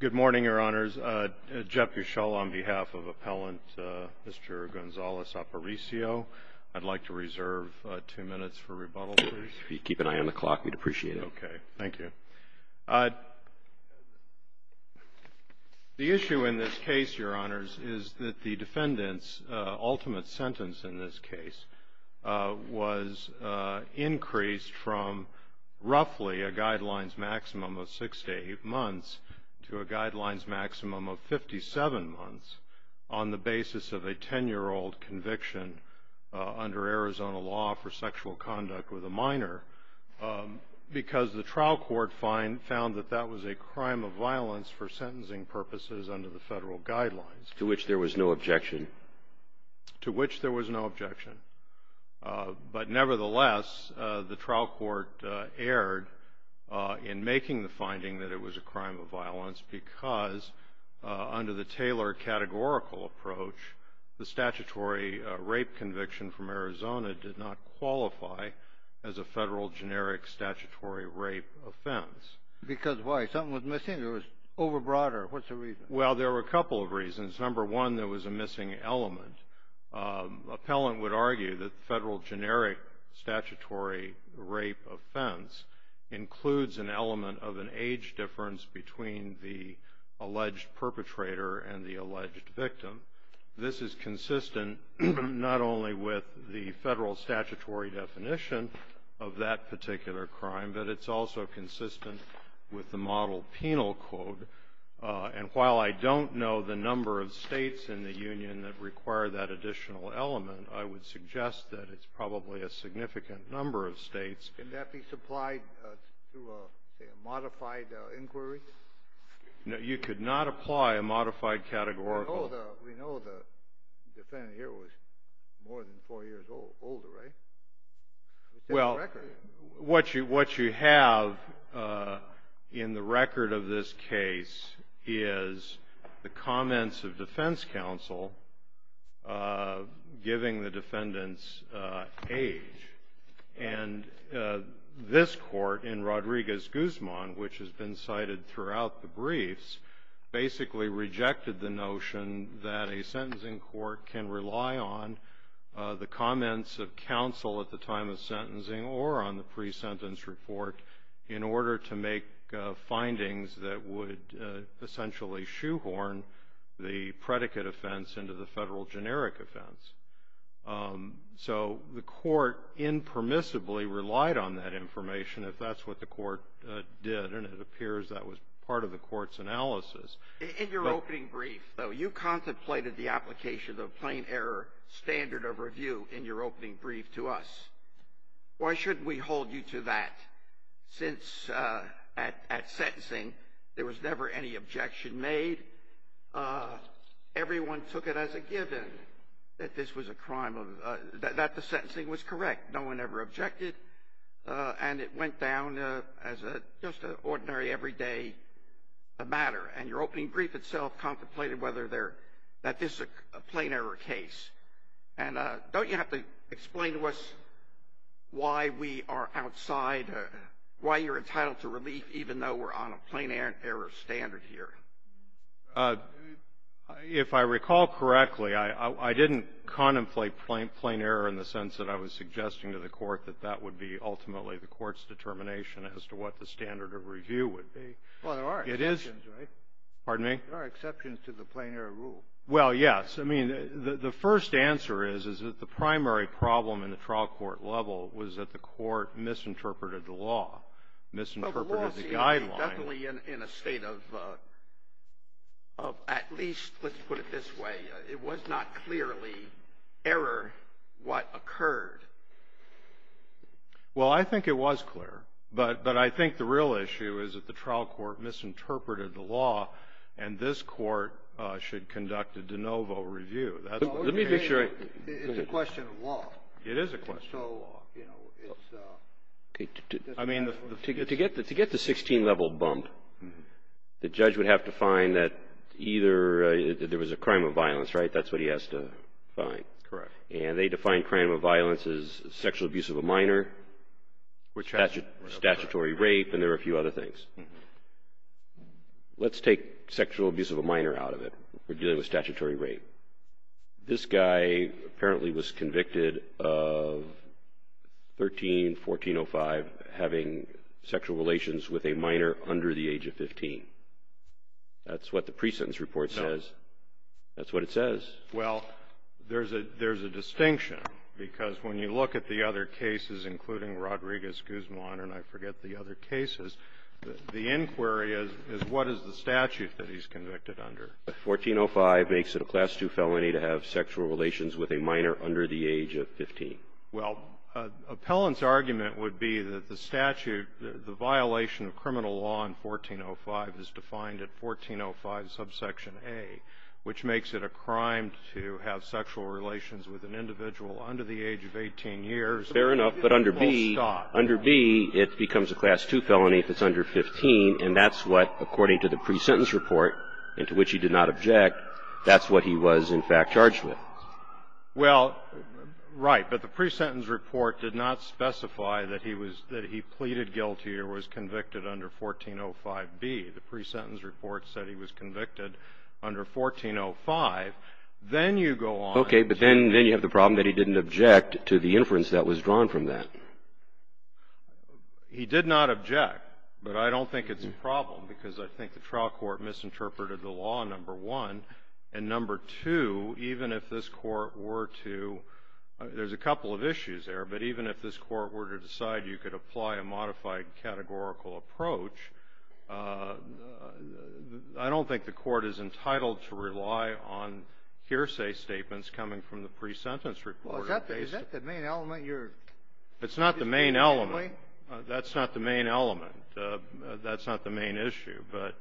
Good morning, Your Honors. Jeff Gushel on behalf of Appellant Mr. Gonzalez-Aparicio. I'd like to reserve two minutes for rebuttal, please. If you'd keep an eye on the clock, we'd appreciate it. Okay. Thank you. The issue in this case, Your Honors, is that the defendant's ultimate sentence in this case was increased from roughly a guidelines maximum of 6 to 8 months to a guidelines maximum of 57 months on the basis of a 10-year-old conviction under Arizona law for sexual conduct with a minor because the trial court found that that was a crime of violence for sentencing purposes under the federal guidelines. To which there was no objection. To which there was no objection. But nevertheless, the trial court erred in making the finding that it was a crime of violence because under the Taylor categorical approach, the statutory rape conviction from Arizona did not qualify as a federal generic statutory rape offense. Because why? Something was missing? It was overbroad or what's the reason? Well, there were a couple of reasons. Number one, there was a missing element. Appellant would argue that the federal generic statutory rape offense includes an element of an age difference between the alleged perpetrator and the alleged victim. This is consistent not only with the federal statutory definition of that particular crime, but it's also consistent with the model penal code. And while I don't know the number of states in the union that require that additional element, I would suggest that it's probably a significant number of states. Can that be supplied through a modified inquiry? You could not apply a modified categorical. We know the defendant here was more than four years older, right? Well, what you have in the record of this case is the comments of defense counsel giving the defendants age. And this court in Rodriguez-Guzman, which has been cited throughout the briefs, basically rejected the notion that a sentencing court can rely on the comments of counsel at the time of sentencing or on the pre-sentence report in order to make findings that would essentially shoehorn the predicate offense into the federal generic offense. So the court impermissibly relied on that information if that's what the court did, and it appears that was part of the court's analysis. In your opening brief, though, you contemplated the application of plain error standard of review in your opening brief to us. Why shouldn't we hold you to that since at sentencing there was never any objection made? Everyone took it as a given that this was a crime, that the sentencing was correct. No one ever objected. And it went down as just an ordinary, everyday matter. And your opening brief itself contemplated whether that this is a plain error case. And don't you have to explain to us why we are outside, why you're entitled to relief, even though we're on a plain error standard here? If I recall correctly, I didn't contemplate plain error in the sense that I was suggesting to the court that that would be ultimately the court's determination as to what the standard of review would be. Well, there are exceptions, right? Pardon me? There are exceptions to the plain error rule. Well, yes. I mean, the first answer is, is that the primary problem in the trial court level was that the court misinterpreted the law, misinterpreted the guideline. Definitely in a state of at least, let's put it this way, it was not clearly error what occurred. Well, I think it was clear. But I think the real issue is that the trial court misinterpreted the law, and this court should conduct a de novo review. Let me be sure. It's a question of law. It is a question of law. To get the 16-level bump, the judge would have to find that either there was a crime of violence, right? That's what he has to find. Correct. And they define crime of violence as sexual abuse of a minor, statutory rape, and there are a few other things. Let's take sexual abuse of a minor out of it. We're dealing with statutory rape. This guy apparently was convicted of 13-1405 having sexual relations with a minor under the age of 15. That's what the pre-sentence report says. No. That's what it says. Well, there's a distinction, because when you look at the other cases, including Rodriguez-Guzman, and I forget the other cases, the inquiry is, what is the statute that he's convicted under? 1405 makes it a Class II felony to have sexual relations with a minor under the age of 15. Well, appellant's argument would be that the statute, the violation of criminal law in 1405 is defined at 1405, subsection A, which makes it a crime to have sexual relations with an individual under the age of 18 years. Fair enough. But under B, under B, it becomes a Class II felony if it's under 15, and that's what, according to the pre-sentence report, and to which he did not object, that's what he was, in fact, charged with. Well, right. But the pre-sentence report did not specify that he was – that he pleaded guilty or was convicted under 1405B. The pre-sentence report said he was convicted under 1405. Then you go on to – Okay. But then you have the problem that he didn't object to the inference that was drawn from that. He did not object, but I don't think it's a problem because I think the trial court misinterpreted the law, number one. And number two, even if this Court were to – there's a couple of issues there, but even if this Court were to decide you could apply a modified categorical approach, I don't think the Court is entitled to rely on hearsay statements coming from the pre-sentence report. Well, is that the main element you're – It's not the main element. That's not the main element. That's not the main issue. But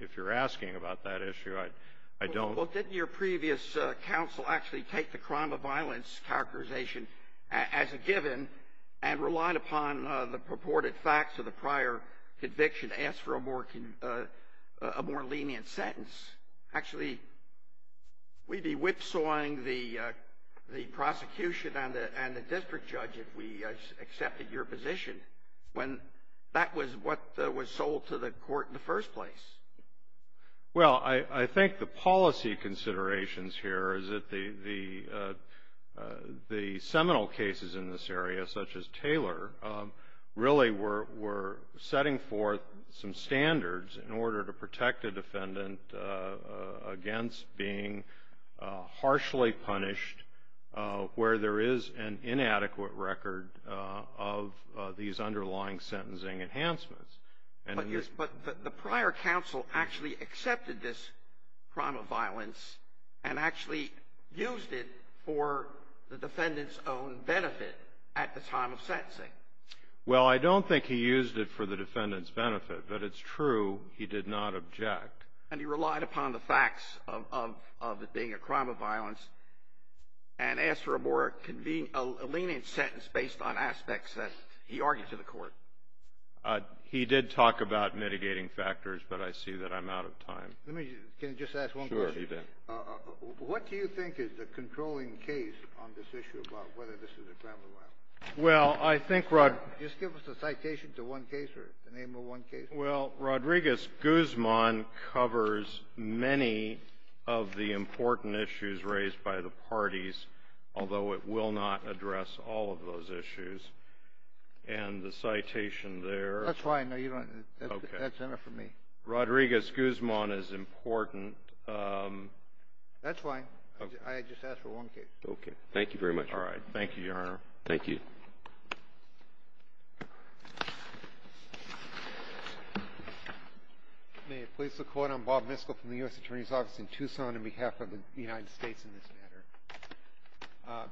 if you're asking about that issue, I don't – Well, didn't your previous counsel actually take the crime of violence characterization as a given and relied upon the purported facts of the prior conviction to ask for a more lenient sentence? Actually, we'd be whipsawing the prosecution and the district judge if we accepted your position when that was what was sold to the Court in the first place. Well, I think the policy considerations here is that the seminal cases in this area, such as Taylor, really were setting forth some standards in order to protect a defendant against being harshly punished where there is an inadequate record of these underlying sentencing enhancements. But the prior counsel actually accepted this crime of violence and actually used it for the defendant's own benefit at the time of sentencing. Well, I don't think he used it for the defendant's benefit, but it's true he did not object. And he relied upon the facts of it being a crime of violence and asked for a more convenient – a lenient sentence based on aspects that he argued to the Court. He did talk about mitigating factors, but I see that I'm out of time. Let me – can I just ask one question? Sure, you do. What do you think is the controlling case on this issue about whether this is a crime of violence? Well, I think – Just give us a citation to one case or the name of one case. Well, Rodriguez-Guzman covers many of the important issues raised by the parties, although it will not address all of those issues. And the citation there – That's fine. No, you don't – that's enough for me. Rodriguez-Guzman is important. That's fine. I just asked for one case. Okay. Thank you very much. All right. Thank you, Your Honor. Thank you. May it please the Court. I'm Bob Miskell from the U.S. Attorney's Office in Tucson on behalf of the United States in this matter.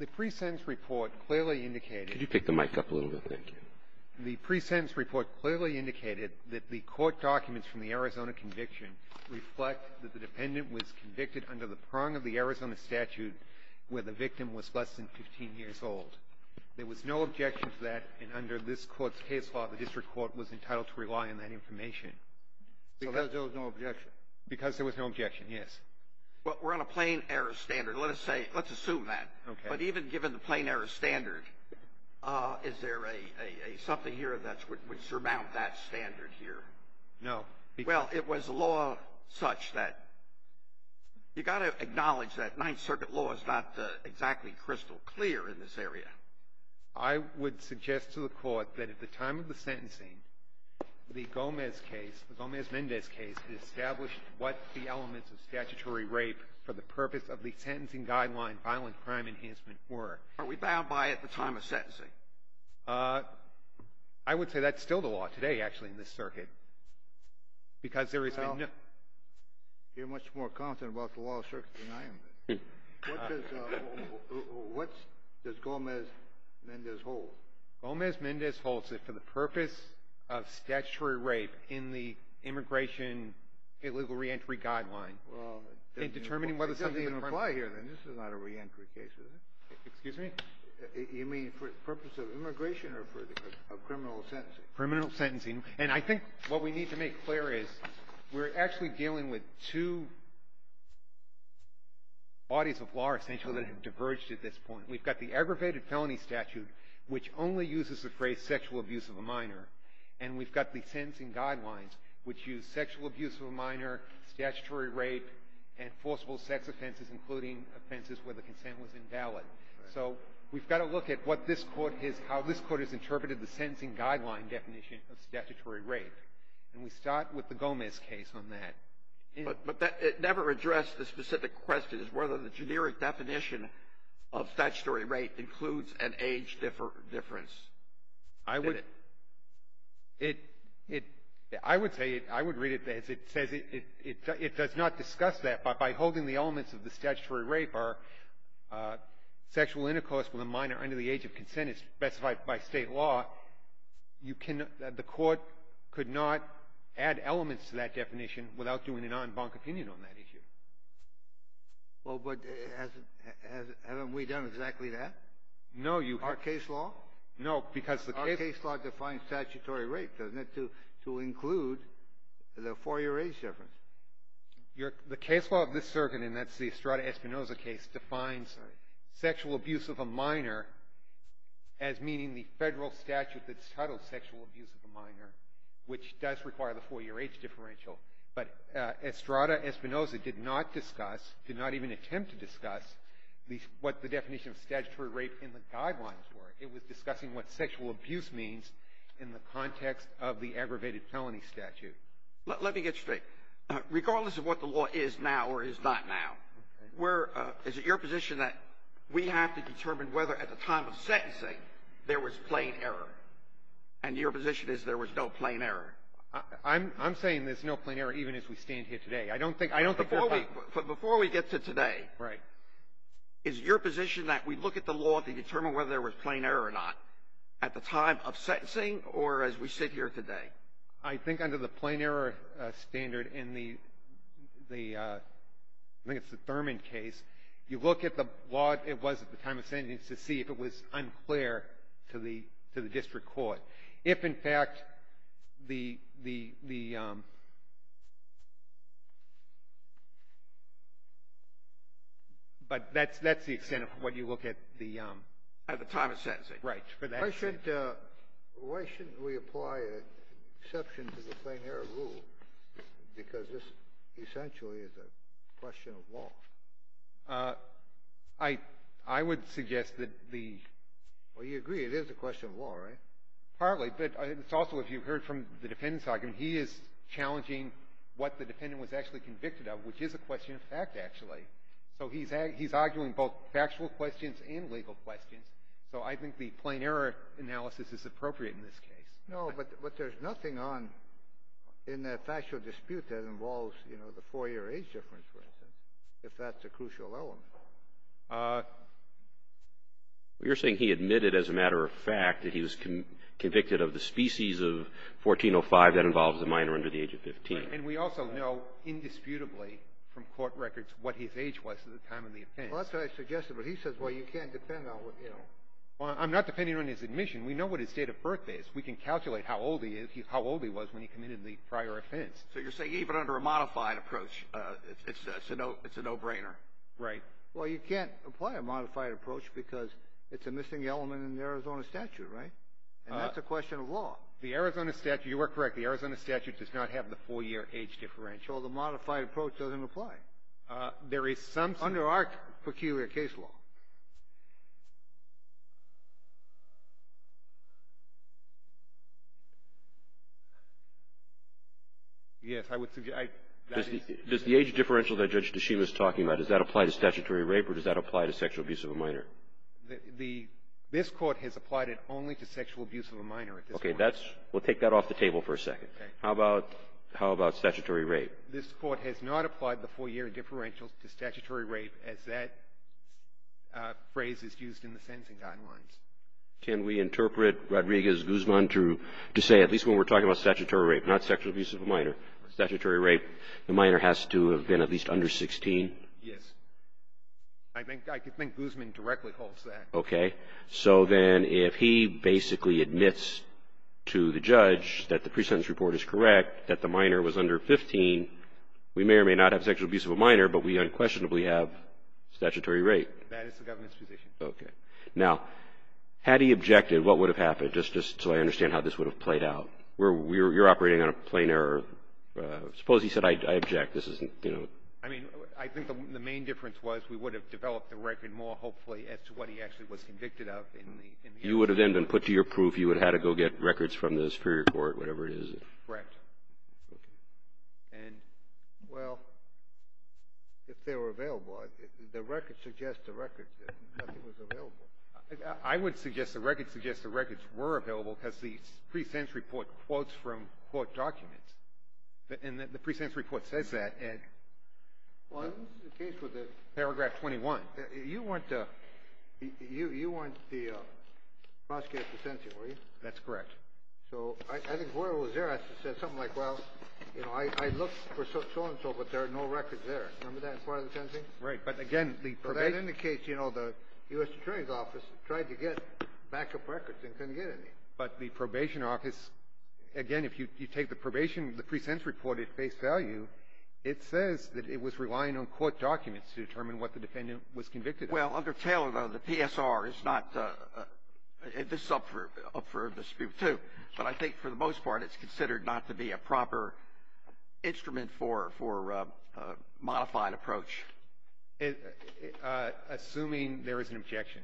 The pre-sentence report clearly indicated – Could you pick the mic up a little bit? Thank you. The pre-sentence report clearly indicated that the court documents from the Arizona conviction reflect that the dependent was convicted under the prong of the Arizona statute where the victim was less than 15 years old. There was no objection to that, and under this Court's case law, the district court was entitled to rely on that information. Because there was no objection. Because there was no objection, yes. Well, we're on a plain error standard. Let us say – let's assume that. Okay. But even given the plain error standard, is there something here that would surmount that standard here? No. Well, it was a law such that – you've got to acknowledge that Ninth Circuit law is not exactly crystal clear in this area. I would suggest to the Court that at the time of the sentencing, the Gomez case, the Gomez-Mendez case, it established what the elements of statutory rape for the purpose of the sentencing guideline violent crime enhancement were. Are we bound by it at the time of sentencing? I would say that's still the law today, actually, in this circuit. Because there is – Well, you're much more confident about the law of the circuit than I am. What does Gomez-Mendez hold? Gomez-Mendez holds that for the purpose of statutory rape in the immigration illegal reentry guideline, in determining whether something in front of – Well, it doesn't even apply here, then. This is not a reentry case, is it? Excuse me? You mean for the purpose of immigration or for criminal sentencing? Criminal sentencing. And I think what we need to make clear is we're actually dealing with two bodies of law, essentially, that have diverged at this point. We've got the aggravated felony statute, which only uses the phrase sexual abuse of a minor, and we've got the sentencing guidelines, which use sexual abuse of a minor, statutory rape, and forcible sex offenses, including offenses where the consent was invalid. So we've got to look at what this Court has – how this Court has interpreted the sentencing guideline definition of statutory rape. And we start with the Gomez case on that. But it never addressed the specific question as whether the generic definition of statutory rape includes an age difference. I would – it – I would say – I would read it as it says it does not discuss that. By holding the elements of the statutory rape are sexual intercourse with a minor under the age of consent, and it's specified by state law, you can – the Court could not add elements to that definition without doing an en banc opinion on that issue. Well, but hasn't – haven't we done exactly that? No, you – Our case law? No, because the – Our case law defines statutory rape, doesn't it, to include the four-year age difference? Your – the case law of this circuit, and that's the Estrada-Espinoza case, defines sexual abuse of a minor as meaning the Federal statute that's titled sexual abuse of a minor, which does require the four-year age differential. But Estrada-Espinoza did not discuss – did not even attempt to discuss what the definition of statutory rape in the guidelines were. It was discussing what sexual abuse means in the context of the aggravated felony statute. Let me get straight. Regardless of what the law is now or is not now, where – is it your position that we have to determine whether at the time of sentencing there was plain error, and your position is there was no plain error? I'm – I'm saying there's no plain error even as we stand here today. I don't think – I don't think there are – Before we – before we get to today. Right. Is it your position that we look at the law to determine whether there was plain error or not at the time of sentencing or as we sit here today? I think under the plain error standard in the – I think it's the Thurman case. You look at the law it was at the time of sentencing to see if it was unclear to the – to the district court. If, in fact, the – but that's – that's the extent of what you look at the – At the time of sentencing. Right. Why should – why shouldn't we apply an exception to the plain error rule because this essentially is a question of law? I – I would suggest that the – Well, you agree it is a question of law, right? Partly, but it's also if you heard from the defendant's argument. He is challenging what the defendant was actually convicted of, which is a question of fact, actually. So he's – he's arguing both factual questions and legal questions. So I think the plain error analysis is appropriate in this case. No, but there's nothing on – in the factual dispute that involves, you know, the 4-year age difference, for instance, if that's a crucial element. You're saying he admitted as a matter of fact that he was convicted of the species of 1405 that involves a minor under the age of 15. And we also know indisputably from court records what his age was at the time of the offense. Well, that's what I suggested, but he says, well, you can't depend on what – you know. Well, I'm not depending on his admission. We know what his date of birth is. We can calculate how old he is – how old he was when he committed the prior offense. So you're saying even under a modified approach, it's a no – it's a no-brainer. Right. Well, you can't apply a modified approach because it's a missing element in the Arizona statute, right? And that's a question of law. The Arizona statute – you are correct. The Arizona statute does not have the 4-year age differential. Well, the modified approach doesn't apply. There is some – Under our peculiar case law. Yes. I would – I – Does the age differential that Judge Tshishima is talking about, does that apply to statutory rape, or does that apply to sexual abuse of a minor? The – this Court has applied it only to sexual abuse of a minor at this point. Okay. That's – we'll take that off the table for a second. Okay. How about statutory rape? This Court has not applied the 4-year differential to statutory rape, as that phrase is used in the sentencing guidelines. Can we interpret Rodriguez-Guzman to say, at least when we're talking about statutory rape, not sexual abuse of a minor, statutory rape, the minor has to have been at least under 16? Yes. I think – I think Guzman directly holds that. Okay. So then if he basically admits to the judge that the pre-sentence report is correct, that the minor was under 15, we may or may not have sexual abuse of a minor, but we unquestionably have statutory rape. That is the government's position. Okay. Now, had he objected, what would have happened? Just so I understand how this would have played out. We're – you're operating on a plain error. Suppose he said, I object, this isn't, you know. I mean, I think the main difference was we would have developed the record more, hopefully, as to what he actually was convicted of in the – You would have then been put to your proof. You would have had to go get records from the Superior Court, whatever it is. Correct. Okay. And – Well, if they were available, the record suggests the record was available. I would suggest the record suggests the records were available because the pre-sentence report quotes from court documents. And the pre-sentence report says that. Well, this is the case with the – Paragraph 21. You weren't the prosecutor for sentencing, were you? That's correct. So I think whoever was there has to say something like, well, you know, I looked for so-and-so, but there are no records there. Remember that in part of the sentencing? Right. But again, the – So that indicates, you know, the U.S. Attorney's Office tried to get backup records and couldn't get any. But the probation office – again, if you take the probation – the pre-sentence report at face value, it says that it was relying on court documents to determine what the defendant was convicted of. Well, under Taylor, though, the PSR is not – this is up for dispute, too. But I think for the most part it's considered not to be a proper instrument for a modified approach. Assuming there is an objection.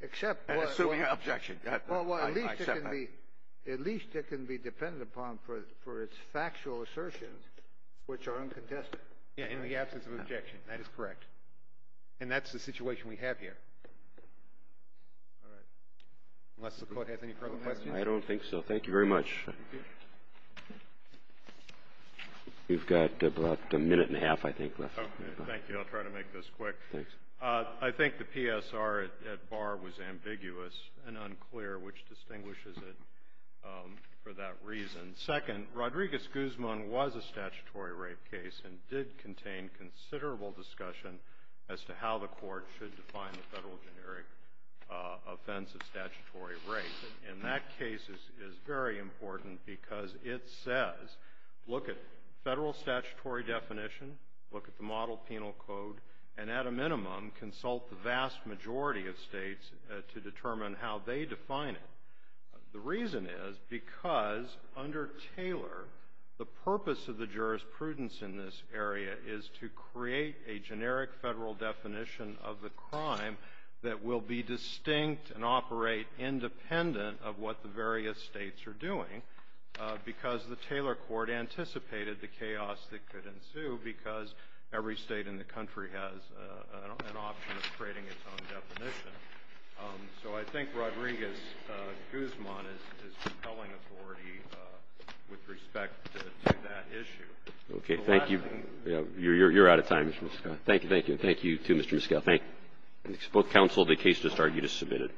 Except – Assuming an objection. Well, at least it can be – at least it can be dependent upon for its factual assertions, which are uncontested. Yeah, in the absence of objection. That is correct. And that's the situation we have here. All right. Unless the Court has any further questions. I don't think so. Thank you very much. We've got about a minute and a half, I think, left. Thank you. I'll try to make this quick. Thanks. I think the PSR at bar was ambiguous and unclear, which distinguishes it for that reason. Second, Rodriguez-Guzman was a statutory rape case and did contain considerable discussion as to how the Court should define the federal generic offense of statutory rape. And that case is very important because it says, look at federal statutory definition, look at the model penal code, and at a minimum, consult the vast majority of states to determine how they define it. The reason is because under Taylor, the purpose of the jurisprudence in this area is to create a generic federal definition of the crime that will be distinct and operate independent of what the various states are doing, because the Taylor Court anticipated the chaos that could ensue because every state in the country has an option of creating its own definition. So I think Rodriguez-Guzman is compelling authority with respect to that issue. Okay. Thank you. You're out of time, Mr. Miskell. Thank you. Thank you. Thank you, too, Mr. Miskell. Both counsel, the case just started. You just submitted it.